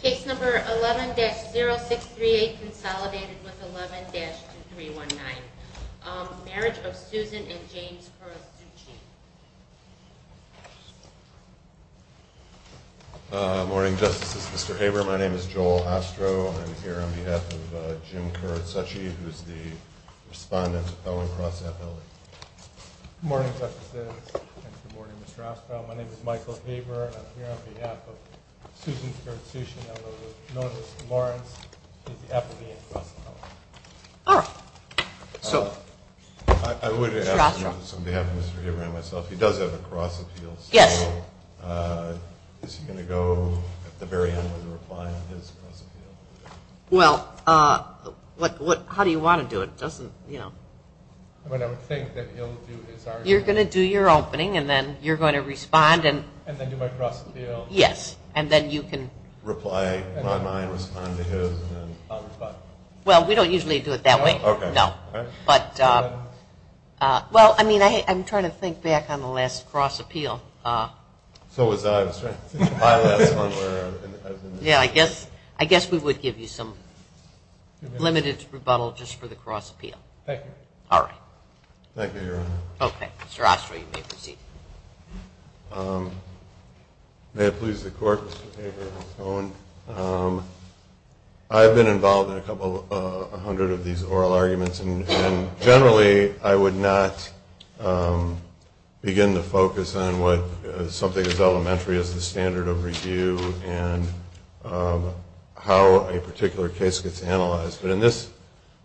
Case number 11-0638 consolidated with 11-2319. Marriage of Susan and James Kurotsuchi. Good morning, Justices. Mr. Haber, my name is Joel Ostro. I'm here on behalf of Jim Kurotsuchi, who is the respondent of Owen Cross FLE. Good morning, Justices. Good morning, Mr. Ostro. My name is Michael Haber, and I'm here on behalf of Susan Kurotsuchi, number 11-0638, Lawrence, who is the applicant of Owen Cross FLE. All right. Mr. Ostro. I would ask you, on behalf of Mr. Haber and myself, he does have a cross appeal. Yes. So is he going to go at the very end with a reply on his cross appeal? Well, how do you want to do it? Doesn't, you know. I mean, I would think that he'll do his argument. You're going to do your opening, and then you're going to respond and. And then do my cross appeal. Yes. And then you can. Reply in my mind, respond to his, and then. Well, we don't usually do it that way. Okay. No. But, well, I mean, I'm trying to think back on the last cross appeal. So was I. My last one where I've been. Yeah, I guess we would give you some limited rebuttal just for the cross appeal. Thank you. All right. Thank you, Your Honor. Okay. Mr. Ostro, you may proceed. May it please the Court, Mr. Haber and Mr. Owen. I've been involved in a couple hundred of these oral arguments, and generally I would not begin to focus on something as elementary as the standard of review and how a particular case gets analyzed. But in this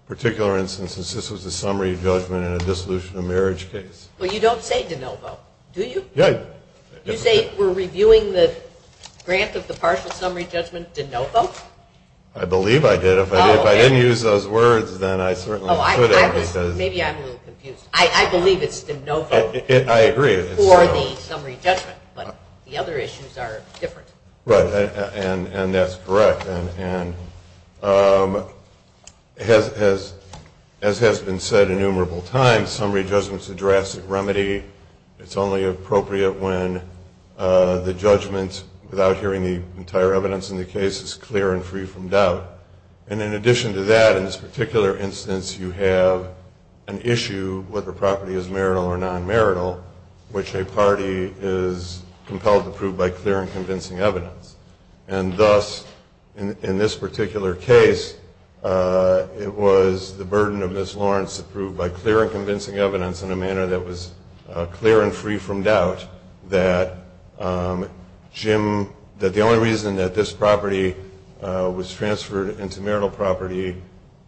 particular instance, this was a summary judgment in a dissolution of marriage case. Well, you don't say de novo, do you? Yeah. You say we're reviewing the grant of the partial summary judgment de novo? I believe I did. Oh, okay. If I didn't use those words, then I certainly couldn't because. Maybe I'm a little confused. I believe it's de novo. I agree. Or the summary judgment, but the other issues are different. Right, and that's correct. And as has been said innumerable times, summary judgment is a drastic remedy. It's only appropriate when the judgment, without hearing the entire evidence in the case, is clear and free from doubt. And in addition to that, in this particular instance, you have an issue whether the property is marital or non-marital, which a party is compelled to prove by clear and convincing evidence. And thus, in this particular case, it was the burden of Ms. Lawrence to prove by clear and convincing evidence in a manner that was clear and free from doubt that Jim, that the only reason that this property was transferred into marital property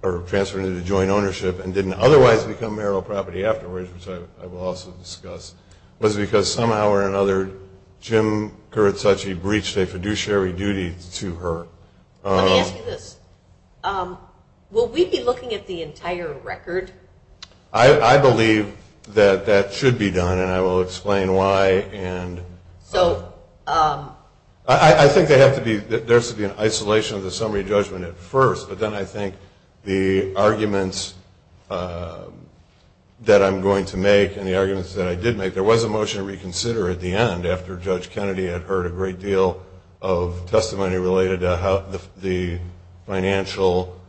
or transferred into joint ownership and didn't otherwise become marital property afterwards, which I will also discuss, was because somehow or another Jim Kuratsuchi breached a fiduciary duty to her. Let me ask you this. Will we be looking at the entire record? I believe that that should be done, and I will explain why. So? I think there has to be an isolation of the summary judgment at first, but then I think the arguments that I'm going to make and the arguments that I did make, there was a motion to reconsider at the end after Judge Kennedy had heard a great deal of testimony related to the financial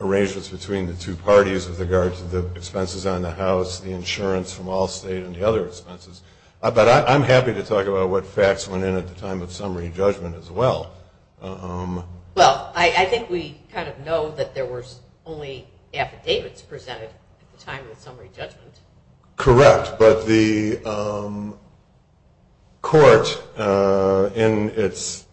arrangements between the two parties with regard to the expenses on the house, the insurance from Allstate, and the other expenses. But I'm happy to talk about what facts went in at the time of summary judgment as well. Well, I think we kind of know that there was only affidavits presented at the time of the summary judgment. Correct, but the court in its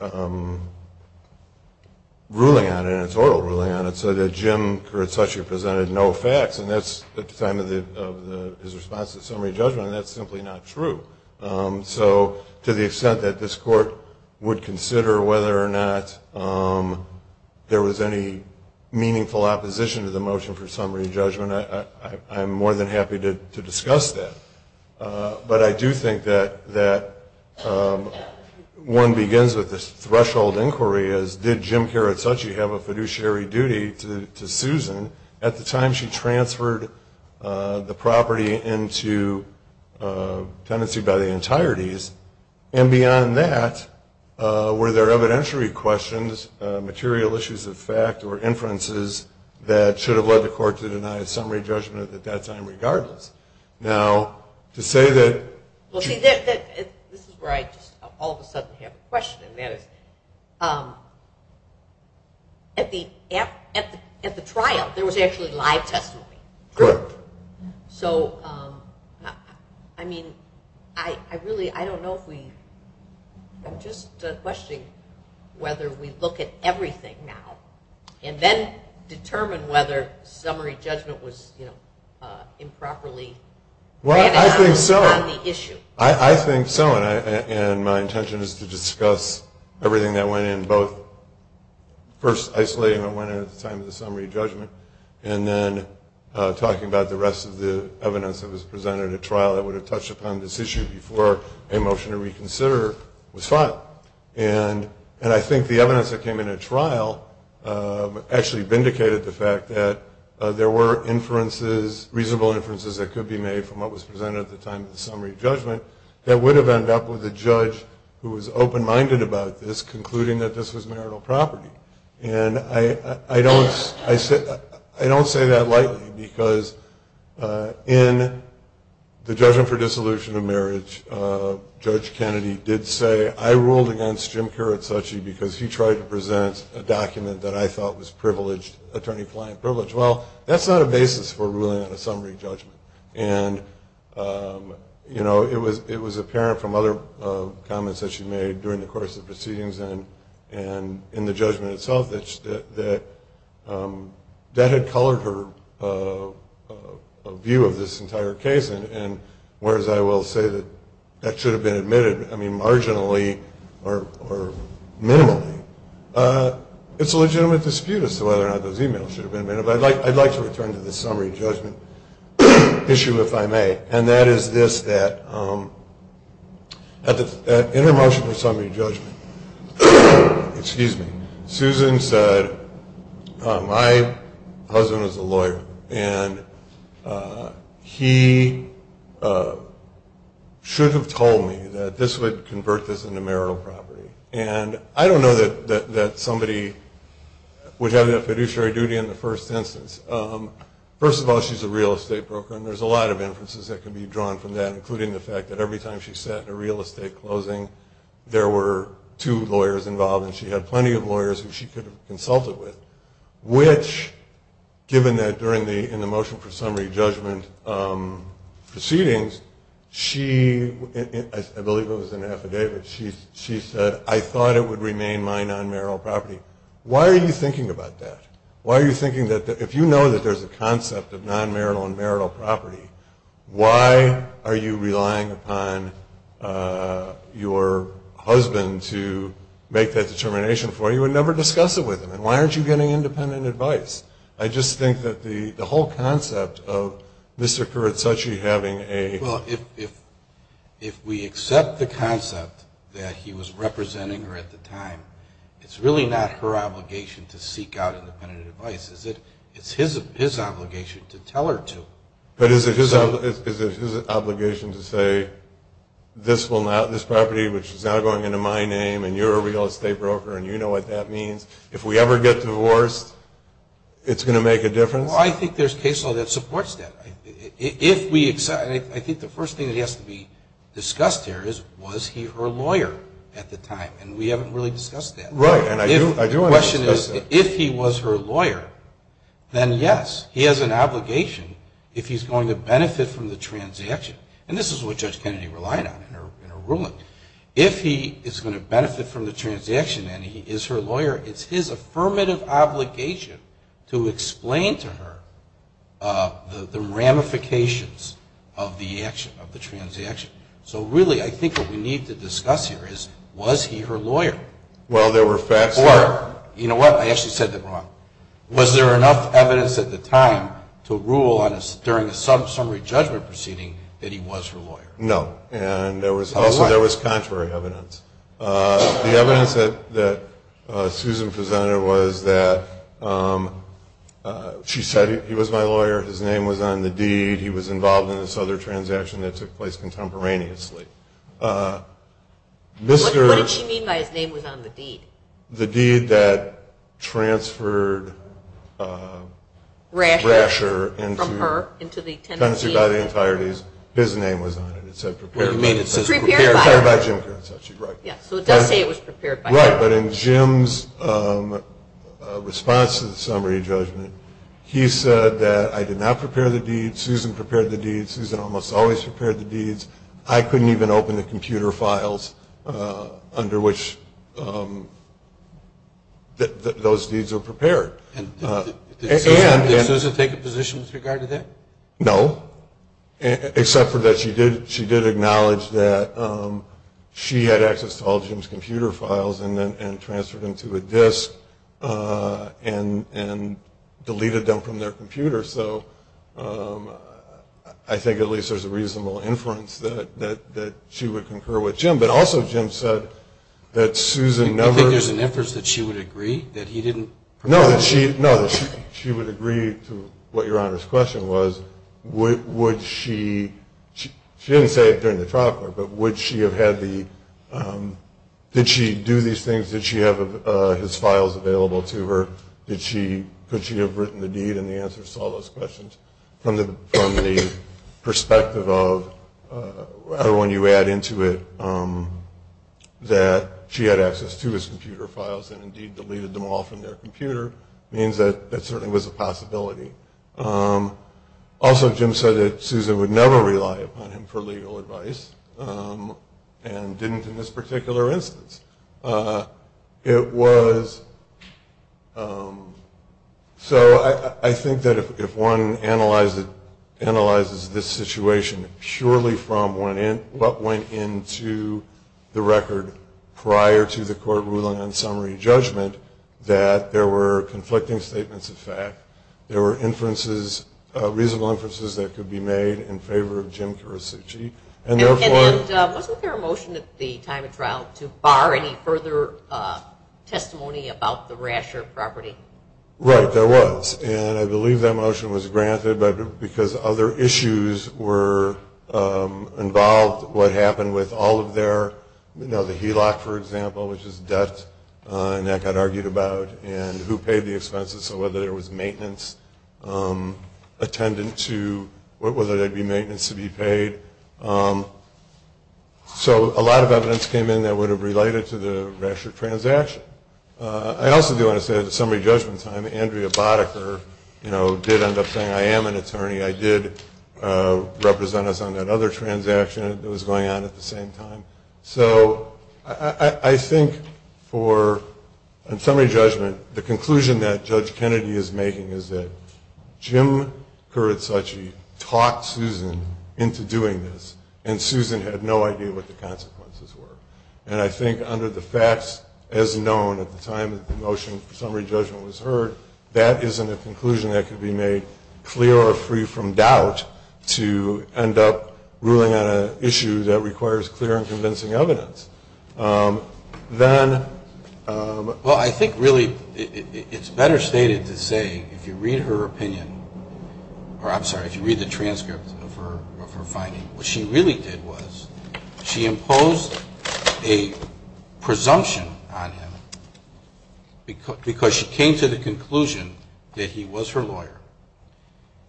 ruling on it, in its oral ruling on it, said that Jim Kuratsuchi presented no facts, and that's at the time of his response to the summary judgment, and that's simply not true. So to the extent that this court would consider whether or not there was any meaningful opposition to the motion for summary judgment, I'm more than happy to discuss that. But I do think that one begins with this threshold inquiry as did Jim Kuratsuchi have a fiduciary duty to Susan at the time she transferred the property into tenancy by the entireties. And beyond that, were there evidentiary questions, material issues of fact, or inferences that should have led the court to deny a summary judgment at that time regardless? Now, to say that... Well, see, this is where I just all of a sudden have a question, and that is, at the trial, there was actually live testimony. Correct. So, I mean, I really, I don't know if we... I'm just questioning whether we look at everything now and then determine whether summary judgment was improperly... Well, I think so. ...on the issue. I think so, and my intention is to discuss everything that went in, both first isolating what went in at the time of the summary judgment and then talking about the rest of the evidence that was presented at trial that would have touched upon this issue before a motion to reconsider was filed. And I think the evidence that came in at trial actually vindicated the fact that there were inferences, reasonable inferences, that could be made from what was presented at the time of the summary judgment that would have ended up with a judge who was open-minded about this concluding that this was marital property. And I don't say that lightly, because in the judgment for dissolution of marriage, Judge Kennedy did say, I ruled against Jim Kiritsuchi because he tried to present a document that I thought was attorney-client privilege. Well, that's not a basis for ruling on a summary judgment. And, you know, it was apparent from other comments that she made during the course of proceedings and in the judgment itself that that had colored her view of this entire case. And whereas I will say that that should have been admitted, I mean, marginally or minimally, it's a legitimate dispute as to whether or not those emails should have been made. I'd like to return to the summary judgment issue, if I may. And that is this, that in her motion for summary judgment, Susan said, my husband is a lawyer, and he should have told me that this would convert this into marital property. And I don't know that somebody would have that fiduciary duty in the first instance. First of all, she's a real estate broker, and there's a lot of inferences that can be drawn from that, including the fact that every time she sat in a real estate closing, there were two lawyers involved, and she had plenty of lawyers who she could have consulted with. Which, given that during the motion for summary judgment proceedings, she, I believe it was in an affidavit, she said, I thought it would remain my non-marital property. Why are you thinking about that? Why are you thinking that, if you know that there's a concept of non-marital and marital property, why are you relying upon your husband to make that determination for you and never discuss it with him? And why aren't you getting independent advice? I just think that the whole concept of Mr. Kuratsuchi having a Well, if we accept the concept that he was representing her at the time, it's really not her obligation to seek out independent advice. It's his obligation to tell her to. But is it his obligation to say, this property, which is now going into my name, and you're a real estate broker and you know what that means, if we ever get divorced, it's going to make a difference? Well, I think there's case law that supports that. I think the first thing that has to be discussed here is, was he her lawyer at the time? And we haven't really discussed that. Right, and I do want to discuss that. The question is, if he was her lawyer, then yes, he has an obligation if he's going to benefit from the transaction. And this is what Judge Kennedy relied on in her ruling. If he is going to benefit from the transaction and he is her lawyer, it's his affirmative obligation to explain to her the ramifications of the action, of the transaction. So, really, I think what we need to discuss here is, was he her lawyer? Well, there were facts there. Or, you know what? I actually said that wrong. Was there enough evidence at the time to rule during a summary judgment proceeding that he was her lawyer? No. And also there was contrary evidence. The evidence that Susan presented was that she said, he was my lawyer, his name was on the deed, he was involved in this other transaction that took place contemporaneously. What did she mean by his name was on the deed? The deed that transferred Rasher into the tenancy by the entireties. His name was on it. It's prepared by Jim Kearns. So it does say it was prepared by Jim. Right, but in Jim's response to the summary judgment, he said that I did not prepare the deed, Susan prepared the deed, Susan almost always prepared the deeds, I couldn't even open the computer files under which those deeds were prepared. Did Susan take a position with regard to that? No. Except that she did acknowledge that she had access to all Jim's computer files and transferred them to a disk and deleted them from their computer. So I think at least there's a reasonable inference that she would concur with Jim. But also Jim said that Susan never – You think there's an inference that she would agree that he didn't prepare the deed? No, that she would agree to what Your Honor's question was, would she – she didn't say it during the trial court, but would she have had the – did she do these things? Did she have his files available to her? Could she have written the deed? And the answer to all those questions. From the perspective of when you add into it that she had access to his computer files and indeed deleted them all from their computer, means that that certainly was a possibility. Also Jim said that Susan would never rely upon him for legal advice and didn't in this particular instance. It was – so I think that if one analyzes this situation purely from what went into the record prior to the court ruling on summary judgment, that there were conflicting statements of fact, there were inferences – reasonable inferences that could be made in favor of Jim Karasich. And therefore – And wasn't there a motion at the time of trial to bar any further testimony about the Rasher property? Right, there was. And I believe that motion was granted because other issues were involved. What happened with all of their – you know, the HELOC, for example, which is debt, and that got argued about. And who paid the expenses, so whether there was maintenance attendant to – whether there would be maintenance to be paid. So a lot of evidence came in that would have related to the Rasher transaction. I also do want to say at the summary judgment time, Andrea Boddicker, you know, did end up saying, I am an attorney. I did represent us on that other transaction that was going on at the same time. So I think for a summary judgment, the conclusion that Judge Kennedy is making is that Jim Karasich talked Susan into doing this, and Susan had no idea what the consequences were. And I think under the facts as known at the time that the motion for summary judgment was heard, that isn't a conclusion that could be made clear or free from doubt to end up ruling on an issue that requires clear and convincing evidence. Then – Well, I think really it's better stated to say if you read her opinion – or I'm sorry, if you read the transcript of her finding, what she really did was she imposed a presumption on him because she came to the conclusion that he was her lawyer.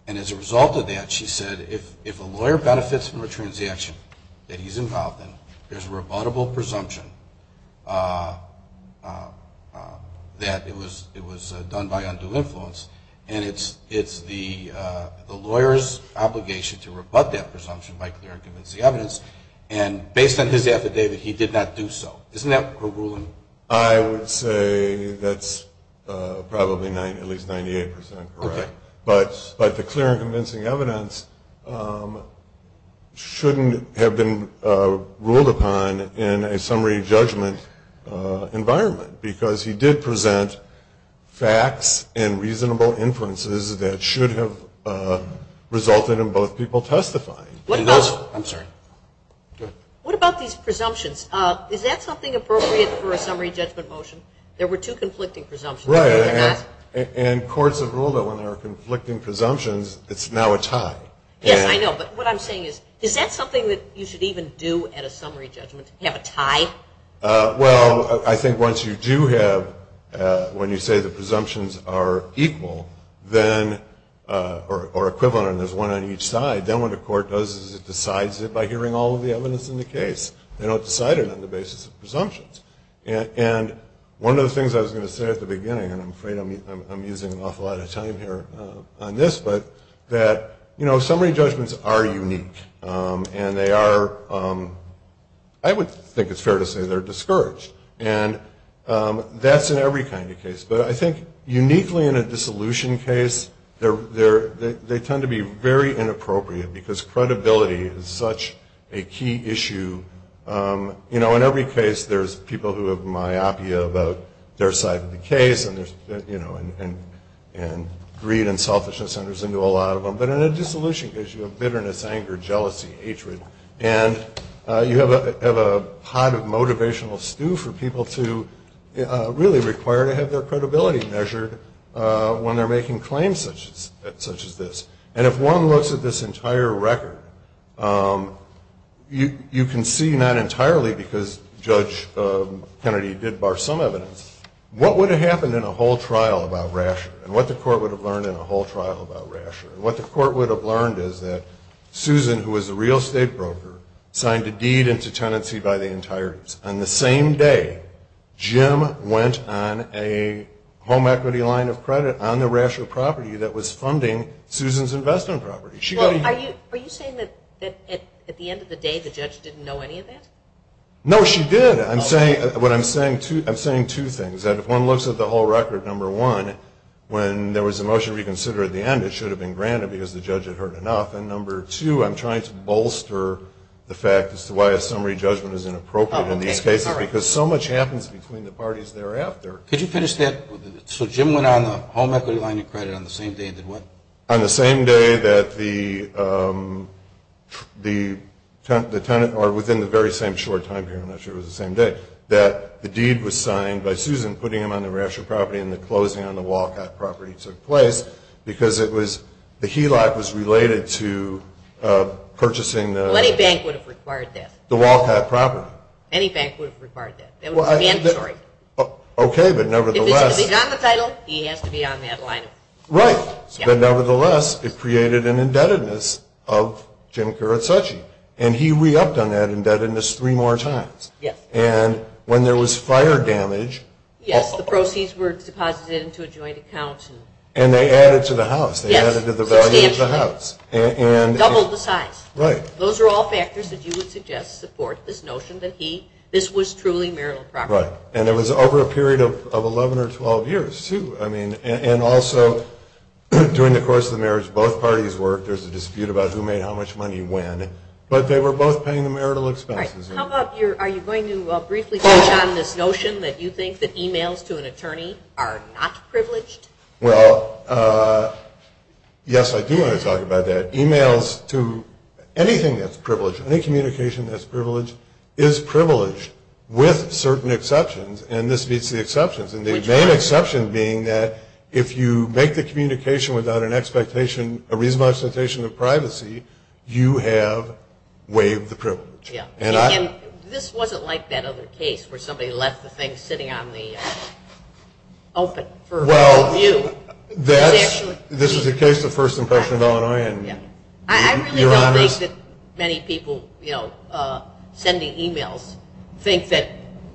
And as a result of that, she said if a lawyer benefits from a transaction that he's involved in, there's a rebuttable presumption that it was done by undue influence. And it's the lawyer's obligation to rebut that presumption by clear and convincing evidence. And based on his affidavit, he did not do so. Isn't that her ruling? I would say that's probably at least 98 percent correct. Okay. But the clear and convincing evidence shouldn't have been ruled upon in a summary judgment environment because he did present facts and reasonable inferences that should have resulted in both people testifying. I'm sorry. Go ahead. What about these presumptions? Is that something appropriate for a summary judgment motion? There were two conflicting presumptions. Right. And courts have ruled that when there are conflicting presumptions, it's now a tie. Yes, I know. But what I'm saying is, is that something that you should even do at a summary judgment, have a tie? Well, I think once you do have – when you say the presumptions are equal or equivalent and there's one on each side, then what the court does is it decides it by hearing all of the evidence in the case. They don't decide it on the basis of presumptions. And one of the things I was going to say at the beginning, and I'm afraid I'm using an awful lot of time here on this, but that, you know, summary judgments are unique. And they are – I would think it's fair to say they're discouraged. And that's in every kind of case. But I think uniquely in a dissolution case, they tend to be very inappropriate because credibility is such a key issue. You know, in every case, there's people who have myopia about their side of the case, and, you know, and greed and selfishness enters into a lot of them. But in a dissolution case, you have bitterness, anger, jealousy, hatred. And you have a pot of motivational stew for people to really require to have their credibility measured when they're making claims such as this. And if one looks at this entire record, you can see not entirely, because Judge Kennedy did bar some evidence, what would have happened in a whole trial about Rasher and what the court would have learned in a whole trial about Rasher. What the court would have learned is that Susan, who was a real estate broker, signed a deed into tenancy by the entirety. On the same day, Jim went on a home equity line of credit on the Rasher property that was funding Susan's investment property. Are you saying that at the end of the day, the judge didn't know any of that? No, she did. I'm saying two things. That if one looks at the whole record, number one, when there was a motion to reconsider at the end, it should have been granted because the judge had heard enough. And number two, I'm trying to bolster the fact as to why a summary judgment is inappropriate in these cases because so much happens between the parties thereafter. Could you finish that? So Jim went on the home equity line of credit on the same day and did what? On the same day that the tenant, or within the very same short time period, I'm not sure it was the same day, that the deed was signed by Susan, putting him on the Rasher property and the closing on the Walcott property took place because it was, the HELOC was related to purchasing the Well, any bank would have required that. The Walcott property. Any bank would have required that. Okay, but nevertheless. If it's to be on the title, he has to be on that line. Right. But nevertheless, it created an indebtedness of Jim Kuratsuchi. And he re-upped on that indebtedness three more times. Yes. And when there was fire damage. Yes, the proceeds were deposited into a joint account. And they added to the house. Yes. They added to the value of the house. Doubled the size. Right. Those are all factors that you would suggest support this notion that he, this was truly marital property. Right. And it was over a period of 11 or 12 years, too. I mean, and also during the course of the marriage, both parties worked. There's a dispute about who made how much money when. But they were both paying the marital expenses. All right. How about your, are you going to briefly touch on this notion that you think that emails to an attorney are not privileged? Well, yes, I do want to talk about that. Emails to anything that's privileged, any communication that's privileged, is privileged with certain exceptions. And this meets the exceptions. And the main exception being that if you make the communication without an expectation, a reasonable expectation of privacy, you have waived the privilege. And this wasn't like that other case where somebody left the thing sitting on the open for review. This is a case of first impression of Illinois, and you're honest. I really don't think that many people sending emails think that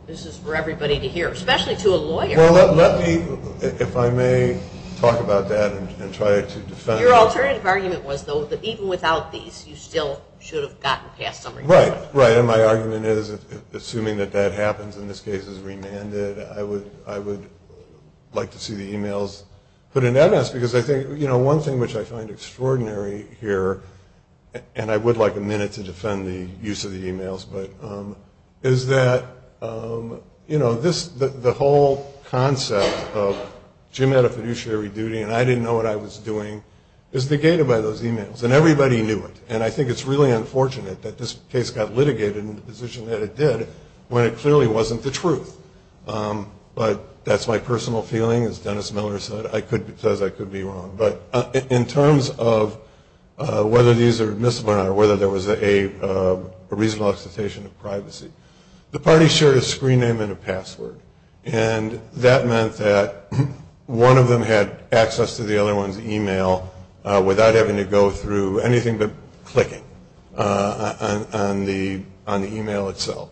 this is for everybody to hear, especially to a lawyer. Well, let me, if I may, talk about that and try to defend it. Your alternative argument was, though, that even without these, you still should have gotten past somebody. Right, right. And my argument is, assuming that that happens and this case is remanded, I would like to see the emails put in MS. Because I think, you know, one thing which I find extraordinary here, and I would like a minute to defend the use of the emails, but, is that, you know, the whole concept of Jim had a fiduciary duty and I didn't know what I was doing is negated by those emails. And everybody knew it. And I think it's really unfortunate that this case got litigated in the position that it did when it clearly wasn't the truth. But that's my personal feeling. As Dennis Miller said, I could be wrong. But in terms of whether these are admissible or not, or whether there was a reasonable expectation of privacy, the parties shared a screen name and a password. And that meant that one of them had access to the other one's email without having to go through anything but clicking on the email itself.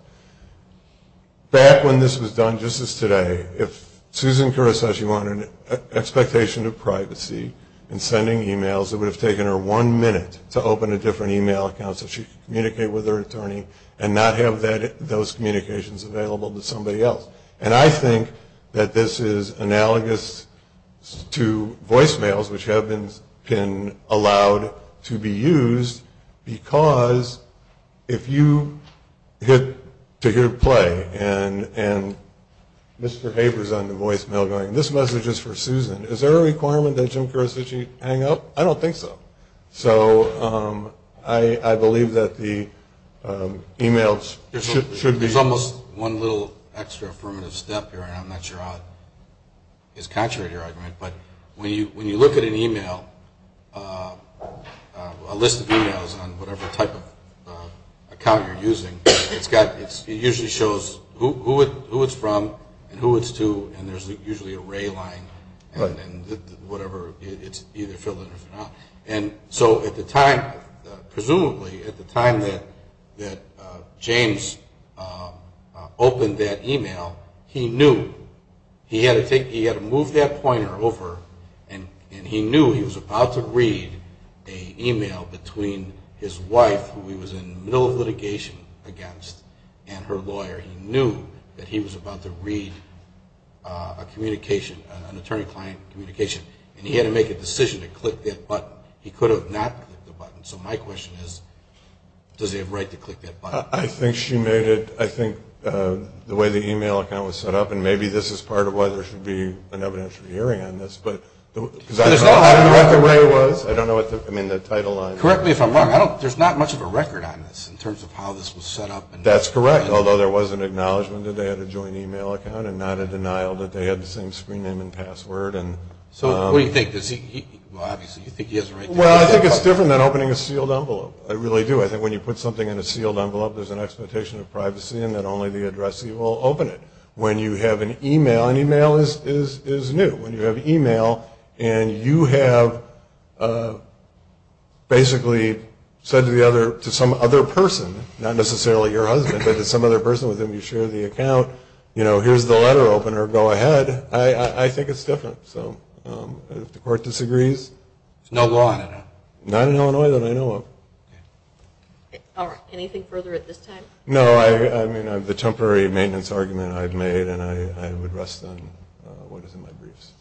Back when this was done, just as today, if Susan Caruso wanted an expectation of privacy in sending emails, it would have taken her one minute to open a different email account so she could communicate with her attorney and not have those communications available to somebody else. And I think that this is analogous to voicemails, which have been allowed to be used, because if you get to hear play and Mr. Haber's on the voicemail going, this message is for Susan, is there a requirement that Jim Caruso should hang up? I don't think so. So I believe that the emails should be… There's almost one little extra affirmative step here, and I'm not sure how it is contrary to your argument, but when you look at an email, a list of emails on whatever type of account you're using, it usually shows who it's from and who it's to, and there's usually a ray line and whatever, it's either fillers or not. And so at the time, presumably at the time that James opened that email, he knew, he had to move that pointer over, and he knew he was about to read an email between his wife, who he was in the middle of litigation against, and her lawyer. He knew that he was about to read a communication, an attorney-client communication, and he had to make a decision to click that button. He could have not clicked the button. So my question is, does he have a right to click that button? I think she made it, I think the way the email account was set up, and maybe this is part of why there should be an evidentiary hearing on this, because I don't know what the way it was, I don't know what the, I mean the title line. Correct me if I'm wrong, there's not much of a record on this in terms of how this was set up. That's correct, although there was an acknowledgment that they had a joint email account and not a denial that they had the same screen name and password. So what do you think? Well, obviously you think he has a right to do that. Well, I think it's different than opening a sealed envelope. I really do. I think when you put something in a sealed envelope, there's an expectation of privacy and that only the addressee will open it. When you have an email, and email is new, when you have email and you have basically said to some other person, not necessarily your husband, but to some other person with whom you share the account, you know, here's the letter opener, go ahead, I think it's different. So if the court disagrees. There's no law in Illinois. Not in Illinois that I know of. All right, anything further at this time? No, I mean the temporary maintenance argument I've made and I would rest on what is in my briefs.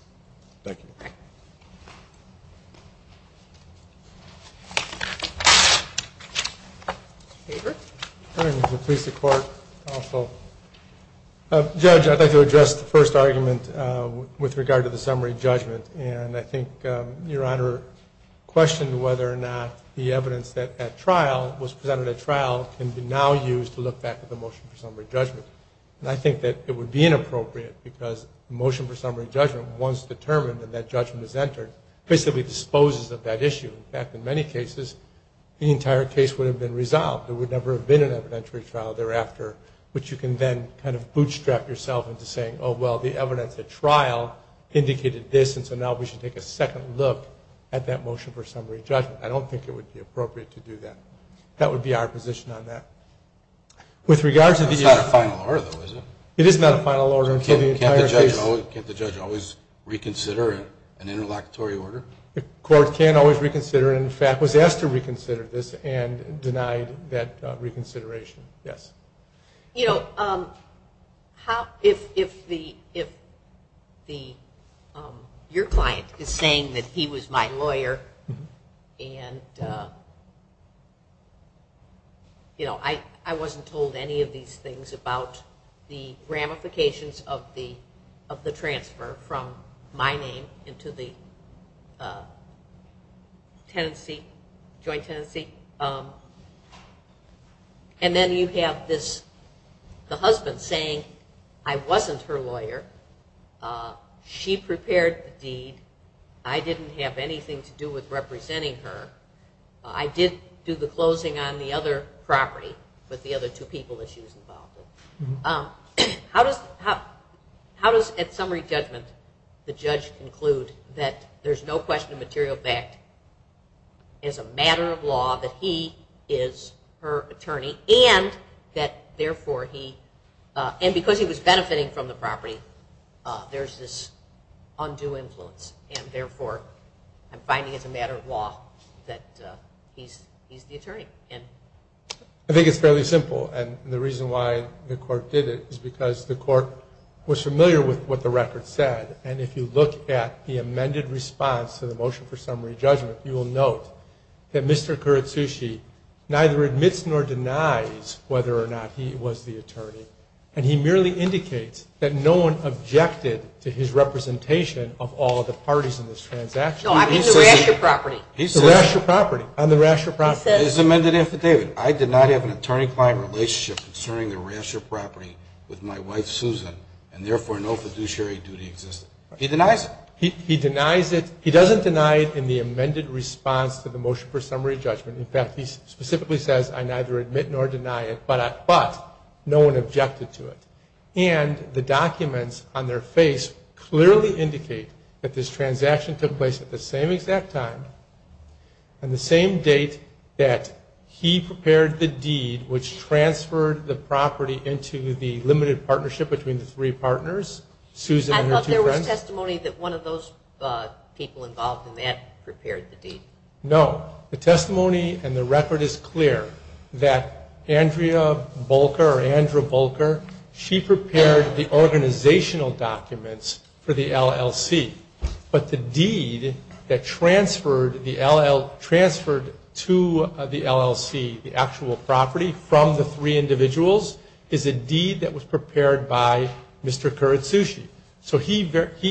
Thank you. All right. David. I'm here to please the Court also. Judge, I'd like to address the first argument with regard to the summary judgment. And I think Your Honor questioned whether or not the evidence that was presented at trial can be now used to look back at the motion for summary judgment. And I think that it would be inappropriate because the motion for summary judgment, once determined and that judgment is entered, basically disposes of that issue. In fact, in many cases, the entire case would have been resolved. There would never have been an evidentiary trial thereafter, which you can then kind of bootstrap yourself into saying, oh, well, the evidence at trial indicated this, and so now we should take a second look at that motion for summary judgment. I don't think it would be appropriate to do that. That would be our position on that. It's not a final order, though, is it? It is not a final order until the entire case. Can't the judge always reconsider an interlocutory order? The Court can always reconsider, and in fact was asked to reconsider this and denied that reconsideration. Yes. You know, if your client is saying that he was my lawyer and I wasn't told any of these things about the ramifications of the transfer from my name into the joint tenancy, and then you have the husband saying I wasn't her lawyer, she prepared the deed, I didn't have anything to do with representing her, I did do the closing on the other property with the other two people that she was involved with, how does, at summary judgment, the judge conclude that there's no question of material fact as a matter of law that he is her attorney and because he was benefiting from the property, there's this undue influence, and therefore I'm finding it's a matter of law that he's the attorney? I think it's fairly simple, and the reason why the Court did it is because the Court was familiar with what the record said, and if you look at the amended response to the motion for summary judgment, you will note that Mr. Kuratsuchi neither admits nor denies whether or not he was the attorney, and he merely indicates that no one objected to his representation of all of the parties in this transaction. No, I mean the Rasher property. The Rasher property, on the Rasher property. His amended affidavit, I did not have an attorney-client relationship concerning the Rasher property with my wife Susan, and therefore no fiduciary duty existed. He denies it. He denies it, he doesn't deny it in the amended response to the motion for summary judgment, in fact, he specifically says I neither admit nor deny it, but no one objected to it, and the documents on their face clearly indicate that this transaction took place at the same exact time and the same date that he prepared the deed which transferred the property into the limited partnership between the three partners, Susan and her two friends. I thought there was testimony that one of those people involved in that prepared the deed. No, the testimony and the record is clear that Andrea Bulker, she prepared the organizational documents for the LLC, but the deed that transferred to the LLC, the actual property from the three individuals, is a deed that was prepared by Mr. Kuratsuchi. So he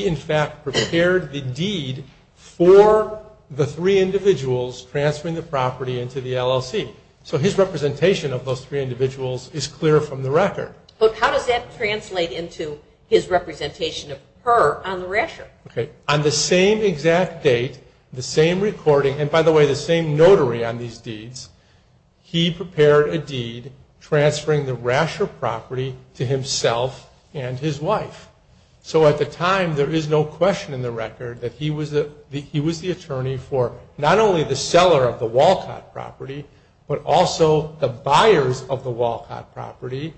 in fact prepared the deed for the three individuals transferring the property into the LLC. So his representation of those three individuals is clear from the record. But how does that translate into his representation of her on the rasher? On the same exact date, the same recording, and by the way the same notary on these deeds, he prepared a deed transferring the rasher property to himself and his wife. So at the time there is no question in the record that he was the attorney for not only the seller of the Walcott property, but also the buyers of the Walcott property,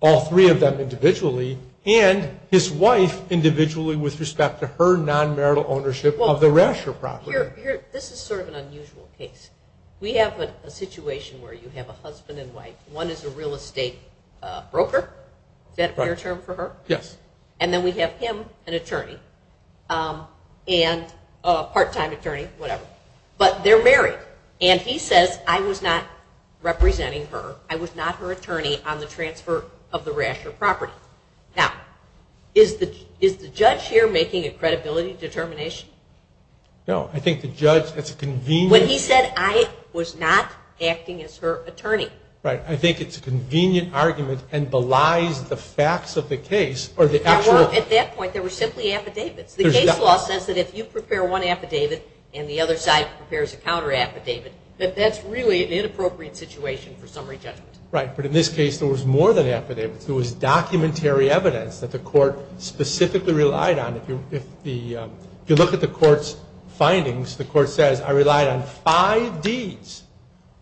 all three of them individually, and his wife individually with respect to her non-marital ownership of the rasher property. This is sort of an unusual case. We have a situation where you have a husband and wife. One is a real estate broker. Is that your term for her? Yes. And then we have him, an attorney, and a part-time attorney, whatever. But they're married, and he says, I was not representing her, I was not her attorney on the transfer of the rasher property. Now, is the judge here making a credibility determination? No. I think the judge, it's a convenient. When he said I was not acting as her attorney. Right. I think it's a convenient argument and belies the facts of the case or the actual. At that point there were simply affidavits. The case law says that if you prepare one affidavit and the other side prepares a counter affidavit, that that's really an inappropriate situation for summary judgment. Right. But in this case there was more than affidavits. There was documentary evidence that the court specifically relied on. If you look at the court's findings, the court says, I relied on five deeds,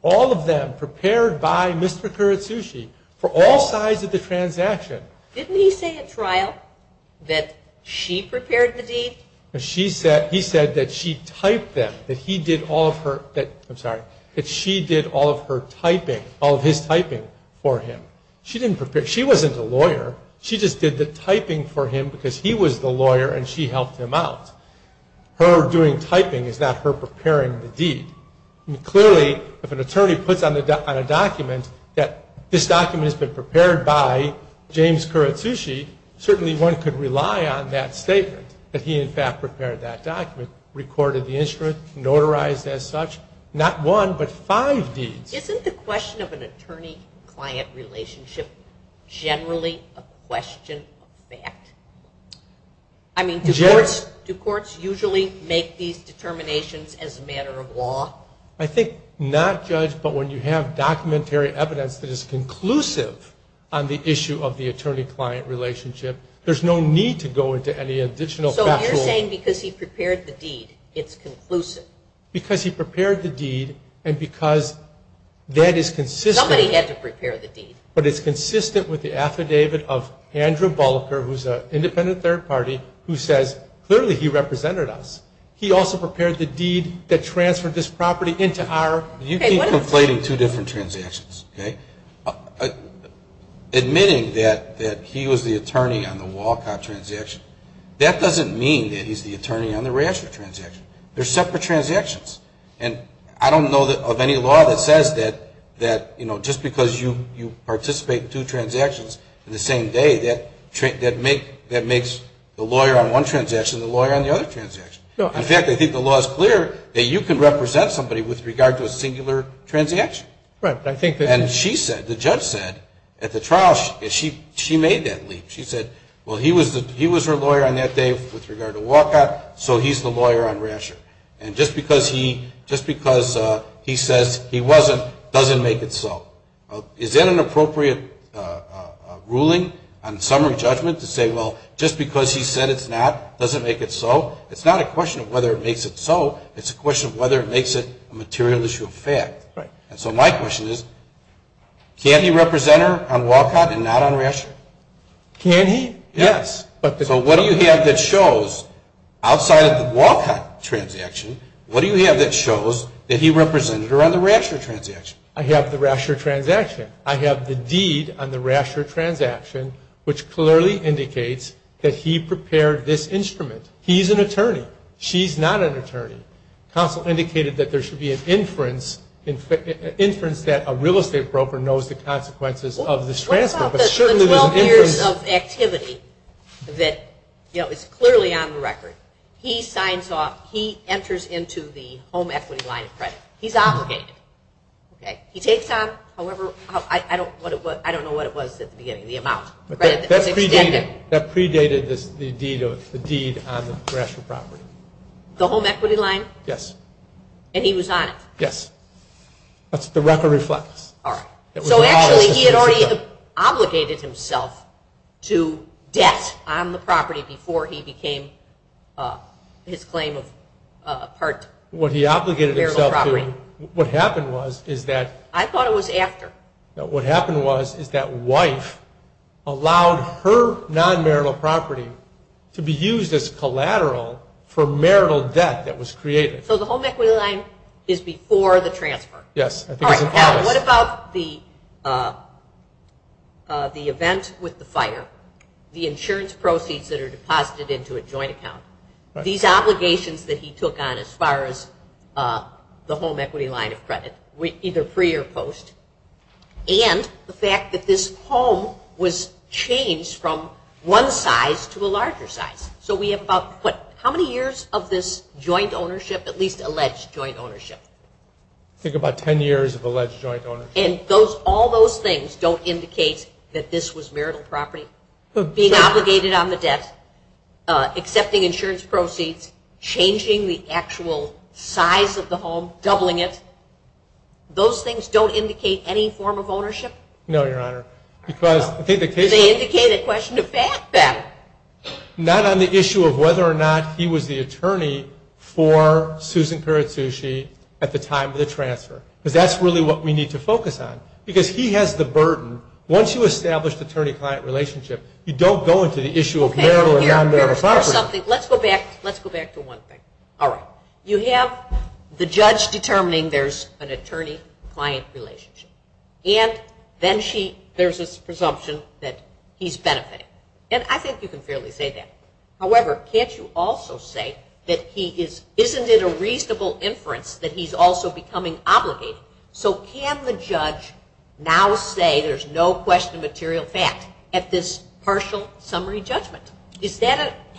all of them prepared by Mr. Kuratsuchi for all sides of the transaction. Didn't he say at trial that she prepared the deed? He said that she typed them, that he did all of her, I'm sorry, that she did all of her typing, all of his typing for him. She didn't prepare, she wasn't a lawyer, she just did the typing for him because he was the lawyer and she helped him out. Her doing typing is not her preparing the deed. Clearly if an attorney puts on a document that this document has been prepared by James Kuratsuchi, certainly one could rely on that statement that he in fact prepared that document, recorded the instrument, notarized as such, not one but five deeds. Isn't the question of an attorney-client relationship generally a question of fact? I mean, do courts usually make these determinations as a matter of law? I think not, Judge, but when you have documentary evidence that is conclusive on the issue of the attorney-client relationship, there's no need to go into any additional factual... So you're saying because he prepared the deed, it's conclusive. Because he prepared the deed and because that is consistent... Somebody had to prepare the deed. But it's consistent with the affidavit of Andrew Bullocker, who's an independent third party, who says clearly he represented us. He also prepared the deed that transferred this property into our... You keep conflating two different transactions, okay? Admitting that he was the attorney on the Walcott transaction, that doesn't mean that he's the attorney on the Rasher transaction. They're separate transactions. And I don't know of any law that says that, you know, just because you participate in two transactions in the same day, that makes the lawyer on one transaction the lawyer on the other transaction. In fact, I think the law is clear that you can represent somebody with regard to a singular transaction. And she said, the judge said, at the trial, she made that leap. She said, well, he was her lawyer on that day with regard to Walcott, so he's the lawyer on Rasher. And just because he says he wasn't doesn't make it so. Is that an appropriate ruling on summary judgment to say, well, just because he said it's not doesn't make it so? It's not a question of whether it makes it so. It's a question of whether it makes it a material issue of fact. And so my question is, can he represent her on Walcott and not on Rasher? Can he? Yes. So what do you have that shows, outside of the Walcott transaction, what do you have that shows that he represented her on the Rasher transaction? I have the Rasher transaction. I have the deed on the Rasher transaction, which clearly indicates that he prepared this instrument. He's an attorney. She's not an attorney. Counsel indicated that there should be an inference that a real estate broker knows the consequences of this transfer. The 12 years of activity that is clearly on the record, he signs off. He enters into the home equity line of credit. He's obligated. He takes on, however, I don't know what it was at the beginning, the amount. That predated the deed on the Rasher property. The home equity line? Yes. And he was on it? Yes. That's what the record reflects. All right. So actually he had already obligated himself to debt on the property before he became his claim of part marital property. What he obligated himself to. What happened was is that... I thought it was after. What happened was is that wife allowed her non-marital property to be used as collateral for marital debt that was created. So the home equity line is before the transfer. Yes. All right. Now what about the event with the fire, the insurance proceeds that are deposited into a joint account, these obligations that he took on as far as the home equity line of credit, either pre or post, and the fact that this home was changed from one size to a larger size. So we have about how many years of this joint ownership, at least alleged joint ownership? I think about 10 years of alleged joint ownership. And all those things don't indicate that this was marital property? Being obligated on the debt, accepting insurance proceeds, changing the actual size of the home, doubling it, those things don't indicate any form of ownership? No, Your Honor. Because I think the case... They indicate a question of fact then. Not on the issue of whether or not he was the attorney for Susan Kuratsuchi at the time of the transfer. Because that's really what we need to focus on. Because he has the burden, once you establish the attorney-client relationship, you don't go into the issue of marital and non-marital property. Let's go back to one thing. All right. You have the judge determining there's an attorney-client relationship. And then there's this presumption that he's benefiting. And I think you can fairly say that. However, can't you also say that isn't it a reasonable inference that he's also becoming obligated? So can the judge now say there's no question of material fact at this partial summary judgment?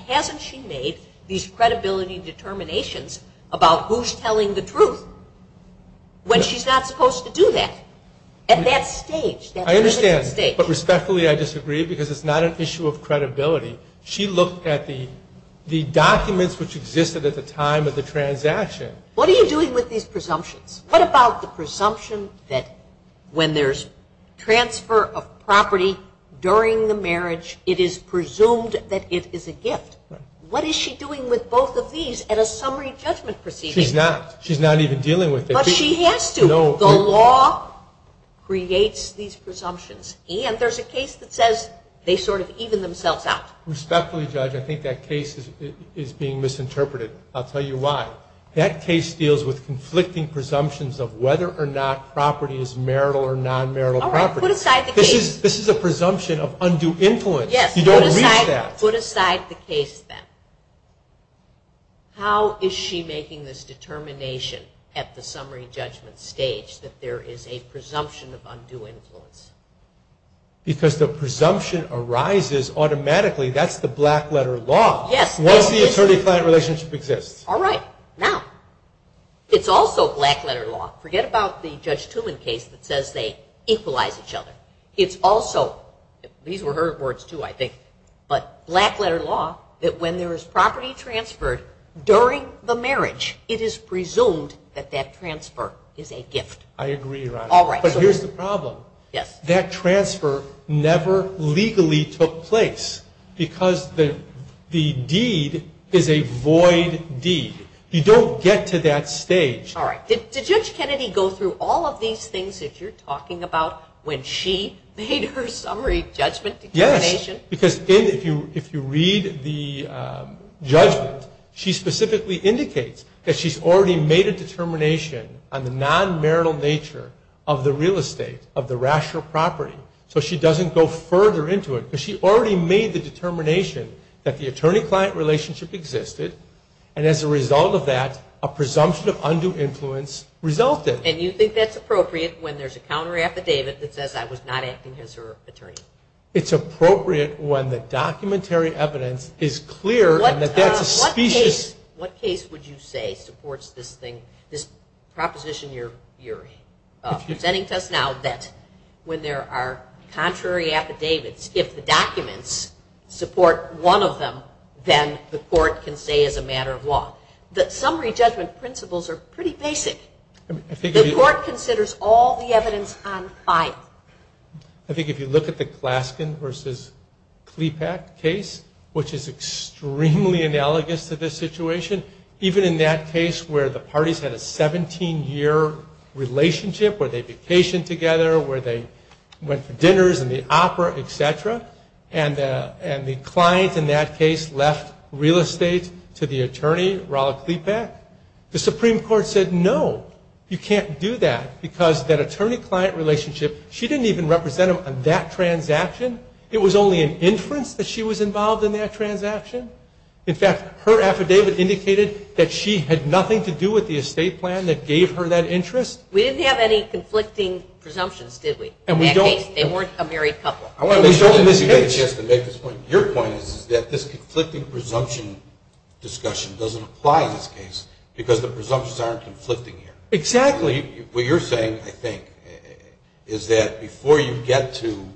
Hasn't she made these credibility determinations about who's telling the truth when she's not supposed to do that at that stage? I understand. But respectfully, I disagree because it's not an issue of credibility. She looked at the documents which existed at the time of the transaction. What are you doing with these presumptions? What about the presumption that when there's transfer of property during the marriage, it is presumed that it is a gift? What is she doing with both of these at a summary judgment proceeding? She's not. She's not even dealing with it. But she has to. The law creates these presumptions. And there's a case that says they sort of even themselves out. Respectfully, Judge, I think that case is being misinterpreted. I'll tell you why. That case deals with conflicting presumptions of whether or not property is marital or non-marital property. All right, put aside the case. This is a presumption of undue influence. Yes. You don't reach that. Put aside the case then. How is she making this determination at the summary judgment stage that there is a presumption of undue influence? Because the presumption arises automatically. That's the black-letter law. Yes. Once the attorney-client relationship exists. All right. Now, it's also black-letter law. Forget about the Judge Tumen case that says they equalize each other. It's also, these were her words too, I think, but black-letter law that when there is property transferred during the marriage, it is presumed that that transfer is a gift. I agree, Your Honor. All right. But here's the problem. Yes. That transfer never legally took place because the deed is a void deed. You don't get to that stage. All right. Did Judge Kennedy go through all of these things that you're talking about when she made her summary judgment determination? Yes. Because if you read the judgment, she specifically indicates that she's already made a determination on the non-marital nature of the real estate, of the rational property, so she doesn't go further into it. But she already made the determination that the attorney-client relationship existed, and as a result of that, a presumption of undue influence resulted. And you think that's appropriate when there's a counter-affidavit that says I was not acting as her attorney? It's appropriate when the documentary evidence is clear and that that's a specious. What case would you say supports this proposition you're presenting to us now that when there are contrary affidavits, if the documents support one of them, then the court can say it's a matter of law? The summary judgment principles are pretty basic. The court considers all the evidence on file. I think if you look at the Claskin v. Kleepak case, which is extremely analogous to this situation, even in that case where the parties had a 17-year relationship, where they vacationed together, where they went to dinners and the opera, et cetera, and the client in that case left real estate to the attorney, Rolla Kleepak, the Supreme Court said no, you can't do that, because that attorney-client relationship, she didn't even represent him on that transaction. It was only an inference that she was involved in that transaction. In fact, her affidavit indicated that she had nothing to do with the estate plan that gave her that interest. We didn't have any conflicting presumptions, did we, in that case? And we don't. They weren't a married couple. Your point is that this conflicting presumption discussion doesn't apply in this case because the presumptions aren't conflicting here. Exactly. What you're saying, I think, is that before you get to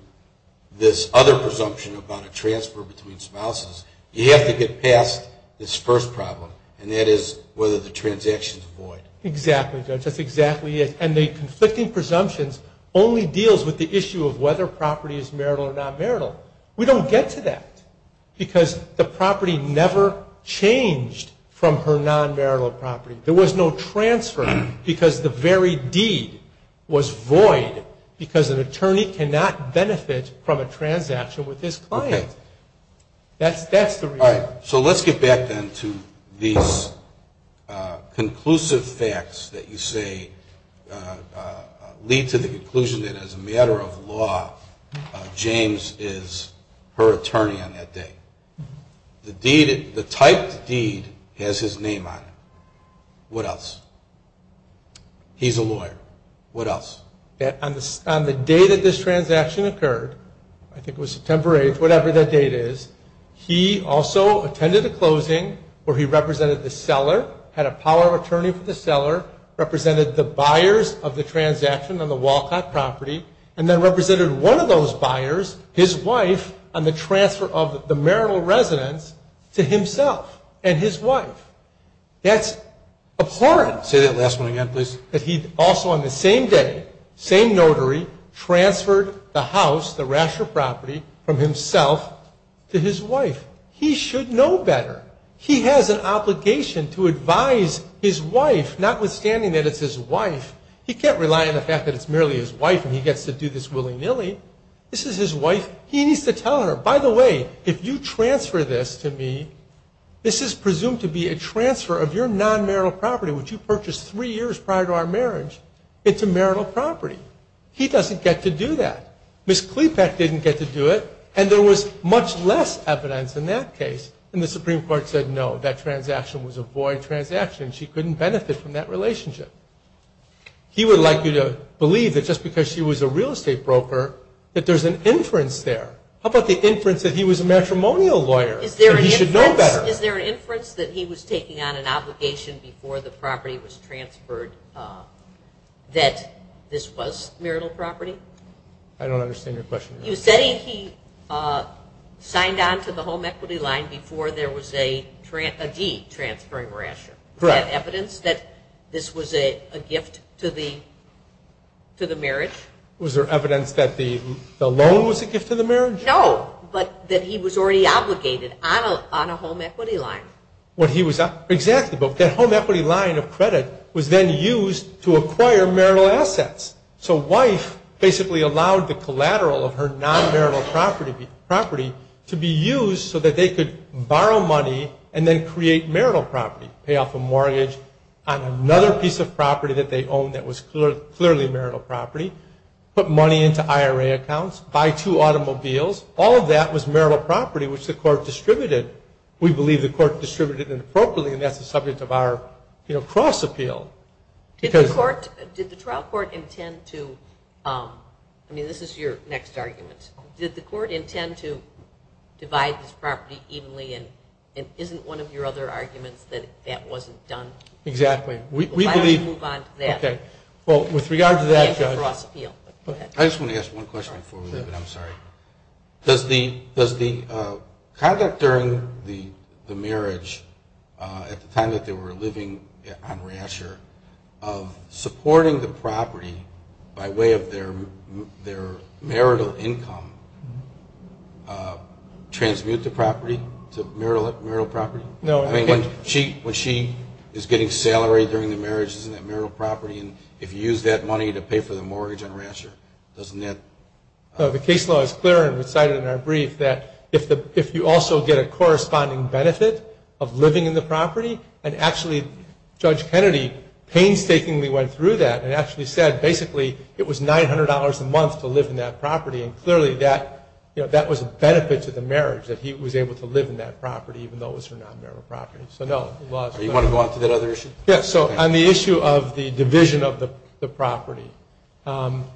this other presumption about a transfer between spouses, you have to get past this first problem, and that is whether the transaction is void. Exactly, Judge. That's exactly it. And the conflicting presumptions only deals with the issue of whether property is marital or non-marital. We don't get to that because the property never changed from her non-marital property. There was no transfer because the very deed was void because an attorney cannot benefit from a transaction with his client. Okay. That's the reality. All right. So let's get back, then, to these conclusive facts that you say lead to the conclusion that, as a matter of law, James is her attorney on that day. The typed deed has his name on it. What else? He's a lawyer. What else? On the day that this transaction occurred, I think it was September 8th, whatever that date is, he also attended a closing where he represented the seller, had a power of attorney for the seller, represented the buyers of the transaction on the Walcott property, and then represented one of those buyers, his wife, on the transfer of the marital residence to himself and his wife. That's abhorrent. Say that last one again, please. That he also, on the same day, same notary, transferred the house, the raster property, from himself to his wife. He should know better. He has an obligation to advise his wife, notwithstanding that it's his wife. He can't rely on the fact that it's merely his wife and he gets to do this willy-nilly. This is his wife. He needs to tell her, by the way, if you transfer this to me, this is presumed to be a transfer of your non-marital property, which you purchased three years prior to our marriage, into marital property. He doesn't get to do that. Ms. Klepek didn't get to do it, and there was much less evidence in that case. And the Supreme Court said, no, that transaction was a void transaction and she couldn't benefit from that relationship. He would like you to believe that just because she was a real estate broker, that there's an inference there. How about the inference that he was a matrimonial lawyer and he should know better? Is there an inference that he was taking on an obligation before the property was transferred that this was marital property? I don't understand your question. You're saying he signed on to the home equity line before there was a deed transferring ration. Correct. Was there evidence that this was a gift to the marriage? Was there evidence that the loan was a gift to the marriage? No, but that he was already obligated on a home equity line. Exactly, but that home equity line of credit was then used to acquire marital assets. So wife basically allowed the collateral of her non-marital property to be used so that they could borrow money and then create marital property, pay off a mortgage on another piece of property that they owned that was clearly marital property, put money into IRA accounts, buy two automobiles. All of that was marital property, which the court distributed. We believe the court distributed it appropriately, and that's the subject of our cross-appeal. Did the trial court intend to, I mean this is your next argument, did the court intend to divide this property evenly and isn't one of your other arguments that that wasn't done? Exactly. Why don't you move on to that? Well, with regard to that, Judge, I just want to ask one question before we leave, and I'm sorry. Does the conduct during the marriage, at the time that they were living on Rasher, of supporting the property by way of their marital income transmute the property to marital property? No. When she is getting salaried during the marriage, isn't that marital property? And if you use that money to pay for the mortgage on Rasher, doesn't that? The case law is clear and recited in our brief that if you also get a corresponding benefit of living in the property, and actually Judge Kennedy painstakingly went through that and actually said basically it was $900 a month to live in that property, and clearly that was a benefit to the marriage that he was able to live in that property even though it was her non-marital property. So no. Do you want to go on to that other issue? Yes. So on the issue of the division of the property, what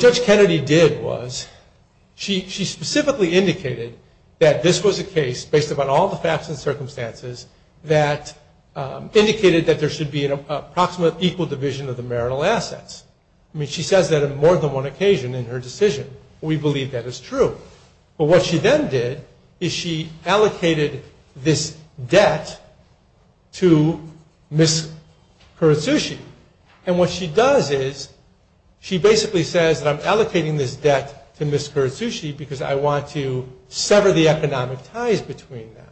Judge Kennedy did was she specifically indicated that this was a case, based upon all the facts and circumstances, that indicated that there should be an approximate equal division of the marital assets. I mean, she says that on more than one occasion in her decision. We believe that is true. But what she then did is she allocated this debt to Ms. Kuratsuchi. And what she does is she basically says that I'm allocating this debt to Ms. Kuratsuchi because I want to sever the economic ties between them.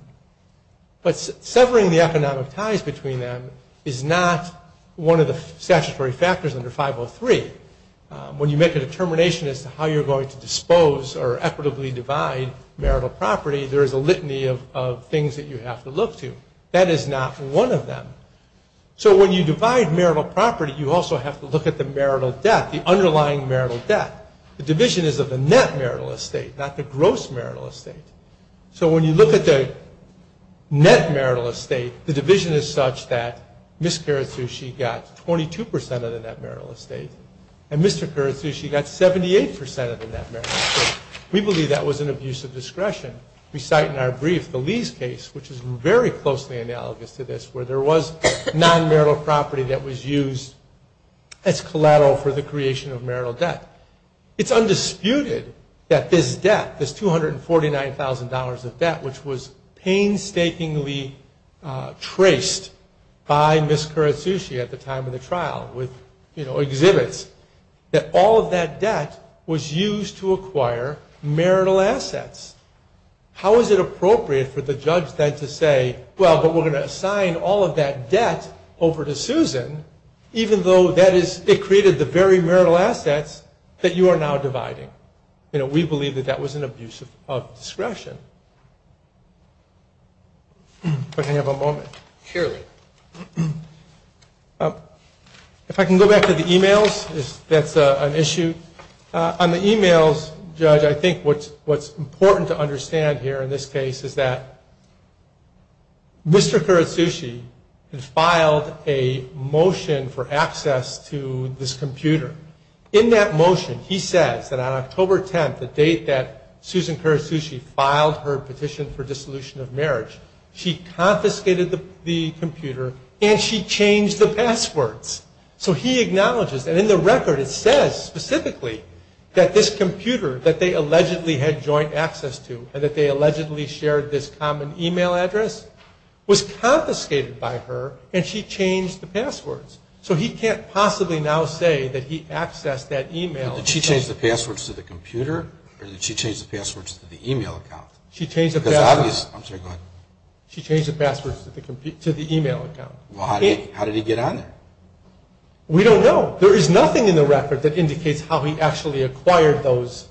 But severing the economic ties between them is not one of the statutory factors under 503. When you make a determination as to how you're going to dispose or equitably divide marital property, there is a litany of things that you have to look to. That is not one of them. So when you divide marital property, you also have to look at the marital debt, the underlying marital debt. The division is of the net marital estate, not the gross marital estate. So when you look at the net marital estate, the division is such that Ms. Kuratsuchi got 22% of the net marital estate, and Mr. Kuratsuchi got 78% of the net marital estate. We believe that was an abuse of discretion. We cite in our brief the Lee's case, which is very closely analogous to this, where there was non-marital property that was used as collateral for the creation of marital debt. It's undisputed that this debt, this $249,000 of debt, which was painstakingly traced by Ms. Kuratsuchi at the time of the trial, with exhibits, that all of that debt was used to acquire marital assets. How is it appropriate for the judge then to say, well, but we're going to assign all of that debt over to Susan, even though it created the very marital assets that you are now dividing? We believe that that was an abuse of discretion. If I can have a moment. Surely. If I can go back to the e-mails, that's an issue. On the e-mails, Judge, I think what's important to understand here in this case is that Mr. Kuratsuchi has filed a motion for access to this computer. In that motion, he says that on October 10th, the date that Susan Kuratsuchi filed her petition for dissolution of marriage, she confiscated the computer and she changed the passwords. So he acknowledges, and in the record it says specifically, that this computer that they allegedly had joint access to and that they allegedly shared this common e-mail address was confiscated by her and she changed the passwords. So he can't possibly now say that he accessed that e-mail. Did she change the passwords to the computer or did she change the passwords to the e-mail account? She changed the passwords to the e-mail account. How did he get on there? We don't know. There is nothing in the record that indicates how he actually acquired those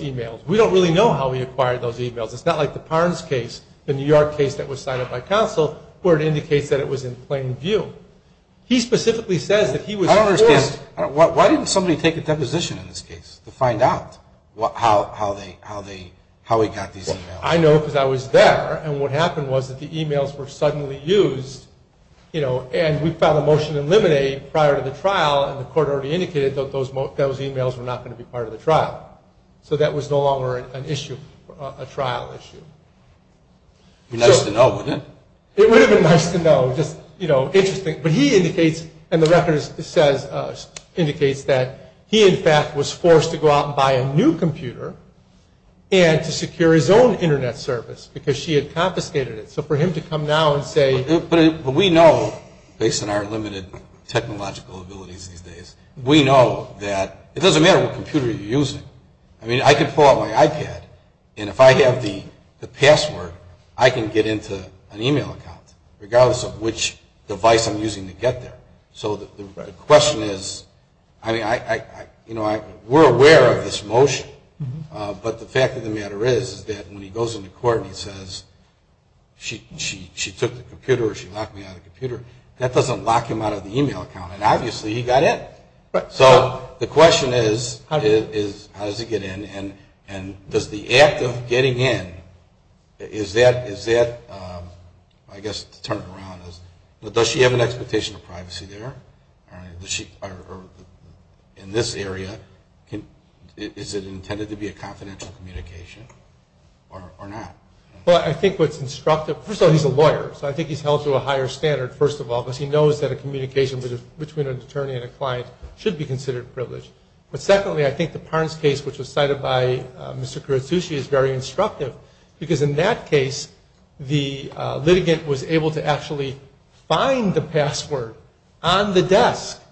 e-mails. We don't really know how he acquired those e-mails. It's not like the Parnes case, the New York case that was signed up by counsel, where it indicates that it was in plain view. He specifically says that he was forced. I don't understand. Why didn't somebody take a deposition in this case to find out how he got these e-mails? I know because I was there and what happened was that the e-mails were suddenly used and we filed a motion to eliminate prior to the trial and the court already indicated that those e-mails were not going to be part of the trial. So that was no longer an issue, a trial issue. It would have been nice to know, wouldn't it? It would have been nice to know, just, you know, interesting. But he indicates, and the record says, indicates that he in fact was forced to go out and buy a new computer and to secure his own Internet service because she had confiscated it. So for him to come now and say. But we know, based on our limited technological abilities these days, we know that it doesn't matter what computer you're using. I mean, I can pull out my iPad and if I have the password, I can get into an e-mail account regardless of which device I'm using to get there. So the question is, I mean, you know, we're aware of this motion, but the fact of the matter is that when he goes into court and he says she took the computer or she locked me out of the computer, that doesn't lock him out of the e-mail account. And obviously he got in. So the question is, how does he get in? And does the act of getting in, is that, I guess to turn it around, does she have an expectation of privacy there? Or in this area, is it intended to be a confidential communication or not? Well, I think what's instructive, first of all, he's a lawyer. So I think he's held to a higher standard, first of all, because he knows that a communication between an attorney and a client should be considered privileged. But secondly, I think the Parnes case, which was cited by Mr. Kuratsuchi, is very instructive because in that case the litigant was able to actually find the password on the desk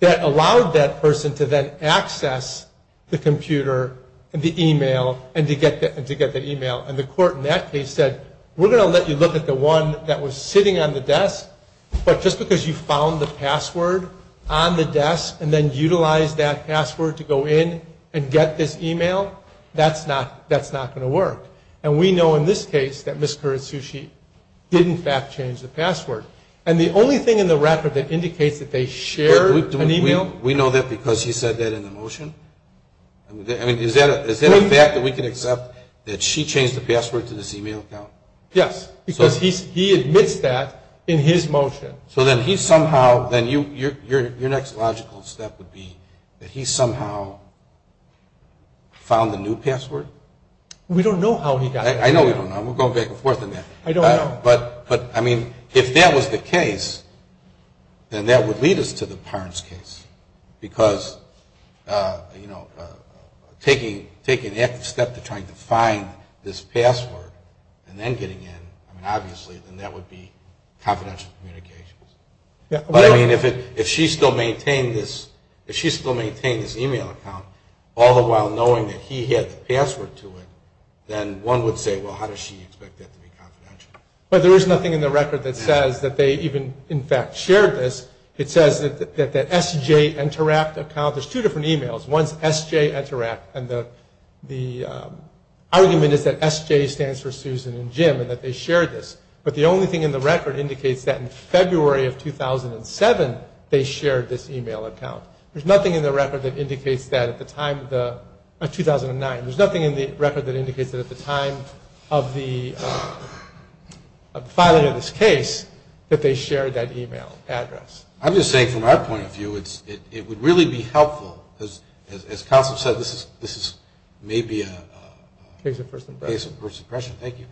that allowed that person to then access the computer and the e-mail and to get that e-mail. And the court in that case said, we're going to let you look at the one that was sitting on the desk, but just because you found the password on the desk and then utilized that password to go in and get this e-mail, that's not going to work. And we know in this case that Ms. Kuratsuchi did in fact change the password. And the only thing in the record that indicates that they shared an e-mail We know that because he said that in the motion? I mean, is that a fact that we can accept, that she changed the password to this e-mail account? Yes, because he admits that in his motion. So then he somehow, then your next logical step would be that he somehow found the new password? We don't know how he got it. I know we don't know. We're going back and forth on that. I don't know. But, I mean, if that was the case, then that would lead us to the Parnes case because, you know, taking the active step to trying to find this password and then getting in, I mean, obviously, then that would be confidential communications. But, I mean, if she still maintained this e-mail account, all the while knowing that he had the password to it, then one would say, well, how does she expect that to be confidential? But there is nothing in the record that says that they even in fact shared this. It says that that SJ Interact account, there's two different e-mails. One's SJ Interact, and the argument is that SJ stands for Susan and Jim and that they shared this. But the only thing in the record indicates that in February of 2007, they shared this e-mail account. There's nothing in the record that indicates that at the time of the, 2009, there's nothing in the record that indicates that at the time of the filing of this case that they shared that e-mail address. I'm just saying from our point of view, it would really be helpful, as Councilman said, this is maybe a case of first impression. Thank you.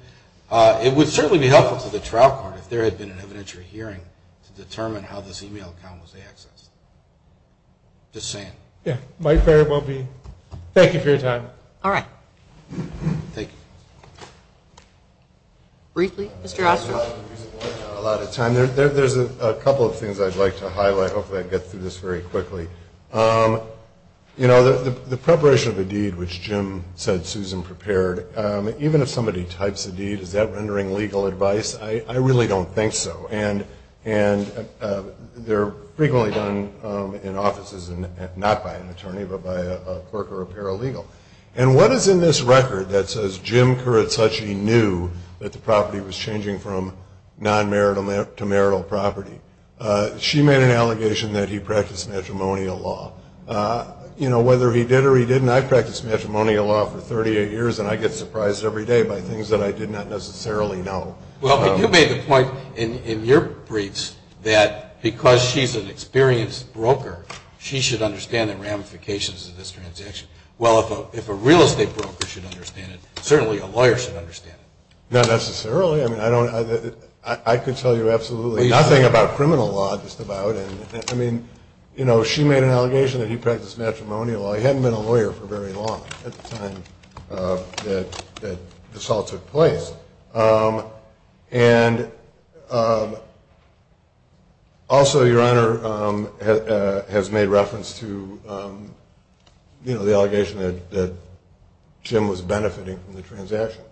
It would certainly be helpful to the trial court if there had been an evidentiary hearing to determine how this e-mail account was accessed. Just saying. Yeah. Thank you for your time. All right. Thank you. Briefly. Mr. Ostroff. A lot of time. There's a couple of things I'd like to highlight. Hopefully I get through this very quickly. You know, the preparation of a deed, which Jim said Susan prepared, even if somebody types a deed, is that rendering legal advice? I really don't think so. And they're frequently done in offices, not by an attorney, but by a clerk or a paralegal. And what is in this record that says Jim Kuratsuchi knew that the property was changing from non-marital to marital property? She made an allegation that he practiced matrimonial law. You know, whether he did or he didn't, I've practiced matrimonial law for 38 years, and I get surprised every day by things that I did not necessarily know. Well, but you made the point in your briefs that because she's an experienced broker, she should understand the ramifications of this transaction. Well, if a real estate broker should understand it, certainly a lawyer should understand it. Not necessarily. I mean, I could tell you absolutely nothing about criminal law, just about. I mean, you know, she made an allegation that he practiced matrimonial law. He hadn't been a lawyer for very long at the time that this all took place. And also, Your Honor, has made reference to, you know, the allegation that Jim was benefiting from the transaction.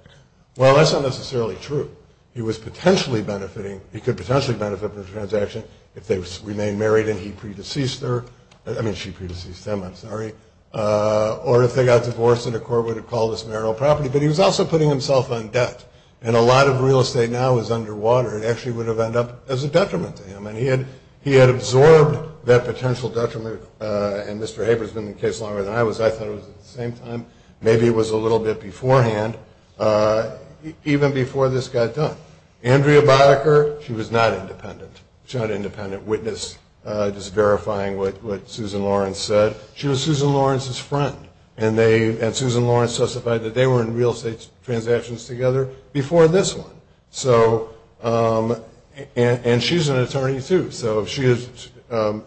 Well, that's not necessarily true. He was potentially benefiting, he could potentially benefit from the transaction if they remained married and he pre-deceased her. I mean, she pre-deceased him, I'm sorry. Or if they got divorced and the court would have called this marital property. But he was also putting himself on debt. And a lot of real estate now is underwater. It actually would have ended up as a detriment to him. And he had absorbed that potential detriment. And Mr. Haber's been in the case longer than I was. I thought it was at the same time. Maybe it was a little bit beforehand, even before this got done. Andrea Boecker, she was not independent. She's not an independent witness, just verifying what Susan Lawrence said. She was Susan Lawrence's friend. And Susan Lawrence testified that they were in real estate transactions together before this one. And she's an attorney, too. And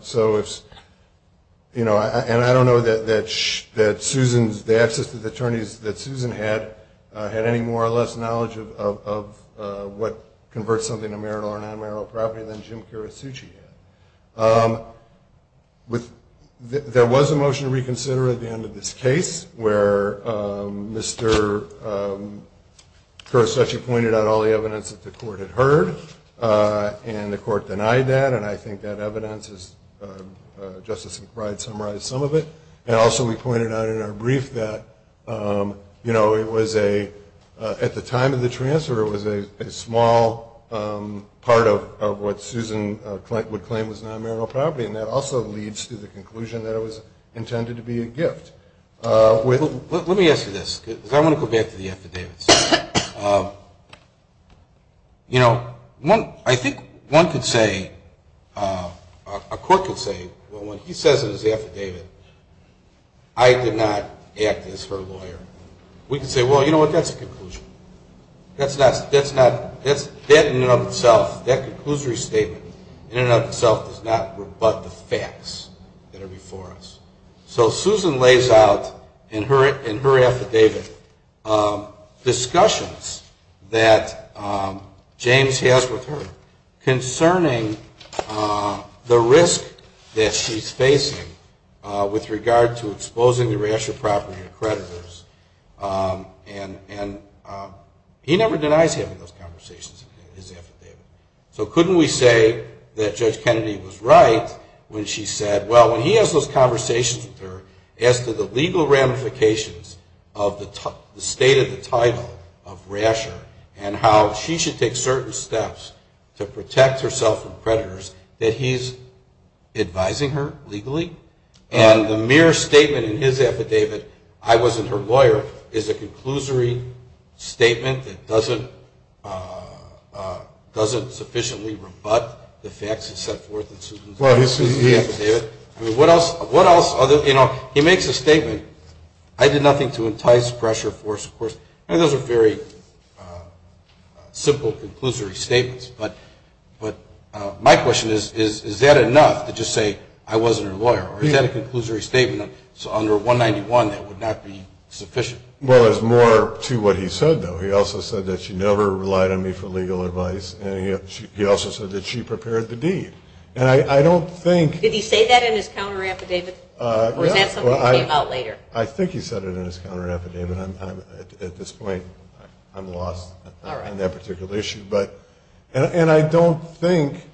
I don't know that the access to the attorneys that Susan had, had any more or less knowledge of what converts something to marital or non-marital property than Jim Kirisucci had. There was a motion to reconsider at the end of this case, where Mr. Kirisucci pointed out all the evidence that the court had heard. And the court denied that. And I think that evidence, Justice McBride summarized some of it. And also we pointed out in our brief that, you know, it was a, at the time of the transfer, it was a small part of what Susan would claim was non-marital property. And that also leads to the conclusion that it was intended to be a gift. Let me ask you this, because I want to go back to the affidavits. You know, I think one could say, a court could say, well, when he says it was the affidavit, I did not act as her lawyer. We could say, well, you know what, that's a conclusion. That in and of itself, that conclusory statement in and of itself does not rebut the facts that are before us. So Susan lays out in her affidavit discussions that James has with her concerning the risk that she's facing with regard to exposing the Rasher property to creditors. And he never denies having those conversations in his affidavit. So couldn't we say that Judge Kennedy was right when she said, well, when he has those conversations with her as to the legal ramifications of the state of the title of Rasher and how she should take certain steps to protect herself from creditors, that he's advising her legally? And the mere statement in his affidavit, I wasn't her lawyer, is a conclusory statement that doesn't sufficiently rebut the facts that are set forth in Susan's affidavit. I mean, what else, you know, he makes a statement, I did nothing to entice, pressure, force. I mean, those are very simple, conclusory statements. But my question is, is that enough to just say I wasn't her lawyer? Or is that a conclusory statement? So under 191, that would not be sufficient? Well, it's more to what he said, though. He also said that she never relied on me for legal advice. And he also said that she prepared the deed. And I don't think – Did he say that in his counter affidavit? Or is that something that came out later? I think he said it in his counter affidavit. At this point, I'm lost on that particular issue. And I don't think,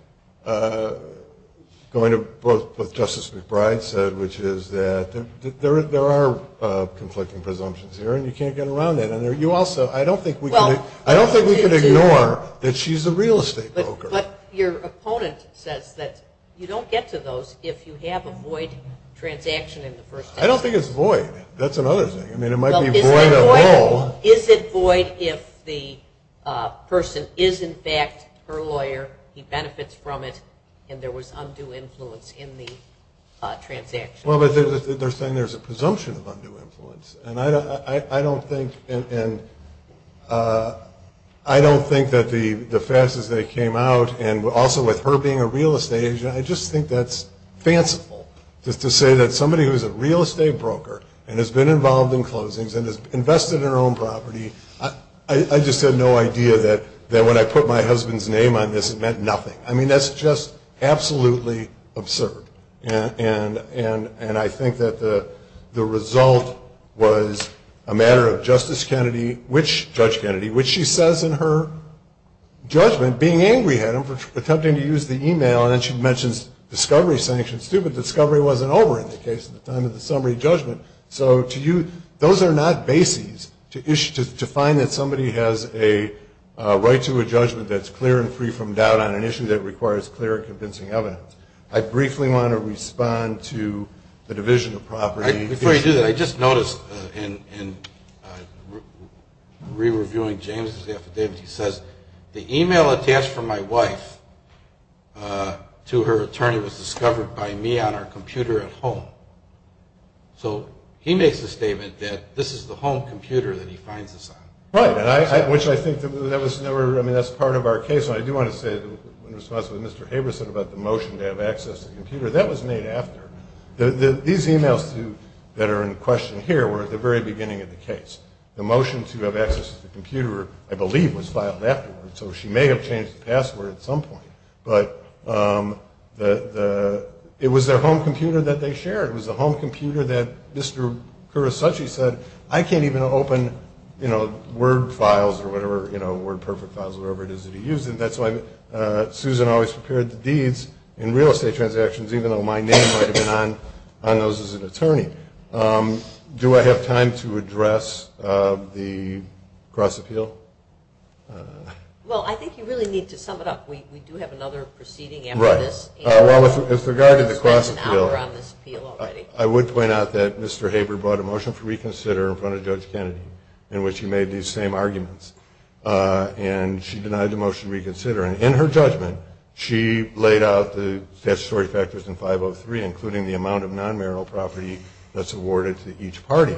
going to both what Justice McBride said, which is that there are conflicting presumptions here, and you can't get around that. And you also – I don't think we can ignore that she's a real estate broker. But your opponent says that you don't get to those if you have a void transaction in the first instance. I don't think it's void. That's another thing. I mean, it might be void of role. Well, is it void if the person is, in fact, her lawyer, he benefits from it, and there was undue influence in the transaction? Well, but they're saying there's a presumption of undue influence. And I don't think that the facts as they came out, and also with her being a real estate agent, I just think that's fanciful just to say that somebody who's a real estate broker and has been involved in closings and has invested in her own property, I just had no idea that when I put my husband's name on this, it meant nothing. I mean, that's just absolutely absurd. And I think that the result was a matter of Justice Kennedy, Judge Kennedy, which she says in her judgment, being angry at him for attempting to use the e-mail, and then she mentions discovery sanctions too, but discovery wasn't over in the case at the time of the summary judgment. So to you, those are not bases to find that somebody has a right to a judgment that's clear and free from doubt on an issue that requires clear and convincing evidence. I briefly want to respond to the division of property issue. Before you do that, I just noticed in re-reviewing James's affidavit, he says, the e-mail attached from my wife to her attorney was discovered by me on our computer at home. So he makes the statement that this is the home computer that he finds us on. Right, which I think that was never, I mean, that's part of our case. I do want to say in response to what Mr. Haber said about the motion to have access to the computer, that was made after. These e-mails that are in question here were at the very beginning of the case. The motion to have access to the computer, I believe, was filed afterwards. So she may have changed the password at some point. But it was their home computer that they shared. It was the home computer that Mr. Kurosuchi said, I can't even open, you know, Word files or whatever, you know, Word Perfect files, whatever it is that he used. And that's why Susan always prepared the deeds in real estate transactions, even though my name might have been on those as an attorney. Do I have time to address the cross-appeal? Well, I think you really need to sum it up. We do have another proceeding after this. Well, with regard to the cross-appeal, I would point out that Mr. Haber brought a motion for reconsider in front of Judge Kennedy in which he made these same arguments. And she denied the motion to reconsider. And in her judgment, she laid out the statutory factors in 503, including the amount of non-marital property that's awarded to each party.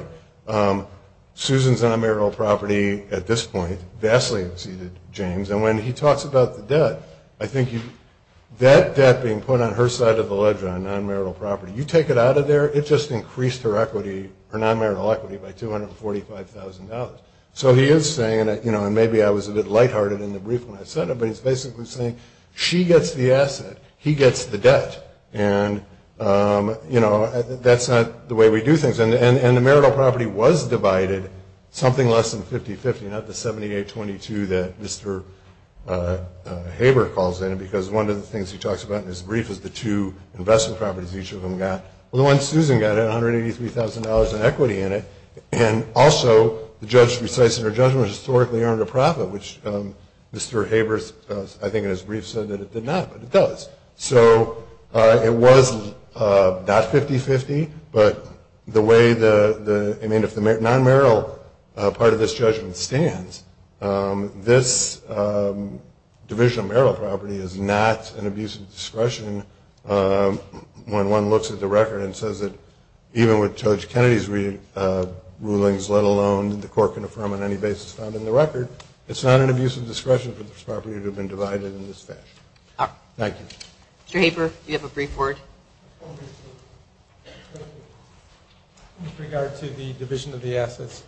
Susan's non-marital property at this point vastly exceeded James. And when he talks about the debt, I think that debt being put on her side of the ledge on non-marital property, you take it out of there, it just increased her equity, her non-marital equity by $245,000. So he is saying that, you know, and maybe I was a bit lighthearted in the brief when I said it, but he's basically saying she gets the asset, he gets the debt. And, you know, that's not the way we do things. And the marital property was divided something less than 50-50, not the 78-22 that Mr. Haber calls in, because one of the things he talks about in his brief is the two investment properties each of them got. Well, the one Susan got had $183,000 in equity in it. And also, the judge, in her judgment, historically earned a profit, which Mr. Haber, I think in his brief, said that it did not, but it does. So it was not 50-50, but the way the non-marital part of this judgment stands, this division of marital property is not an abuse of discretion when one looks at the record and says that even with Judge Kennedy's rulings, let alone the court can affirm on any basis found in the record, it's not an abuse of discretion for this property to have been divided in this fashion. All right. Thank you. Mr. Haber, you have a brief word. With regard to the division of the assets,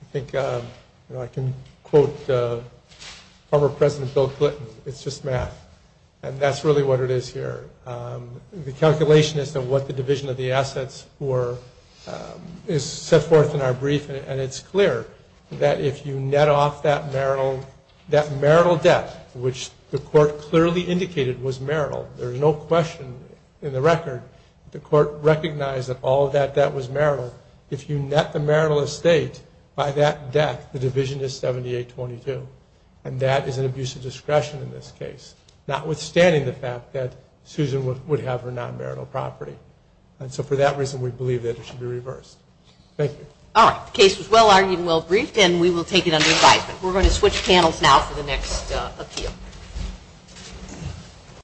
I think I can quote former President Bill Clinton, it's just math, and that's really what it is here. The calculation as to what the division of the assets were is set forth in our brief, and it's clear that if you net off that marital debt, which the court clearly indicated was marital, there's no question in the record the court recognized that all of that debt was marital. If you net the marital estate by that debt, the division is 78-22, and that is an abuse of discretion in this case, notwithstanding the fact that Susan would have her non-marital property. And so for that reason, we believe that it should be reversed. Thank you. All right. The case was well-argued and well-briefed, and we will take it under advisement. We're going to switch panels now for the next appeal.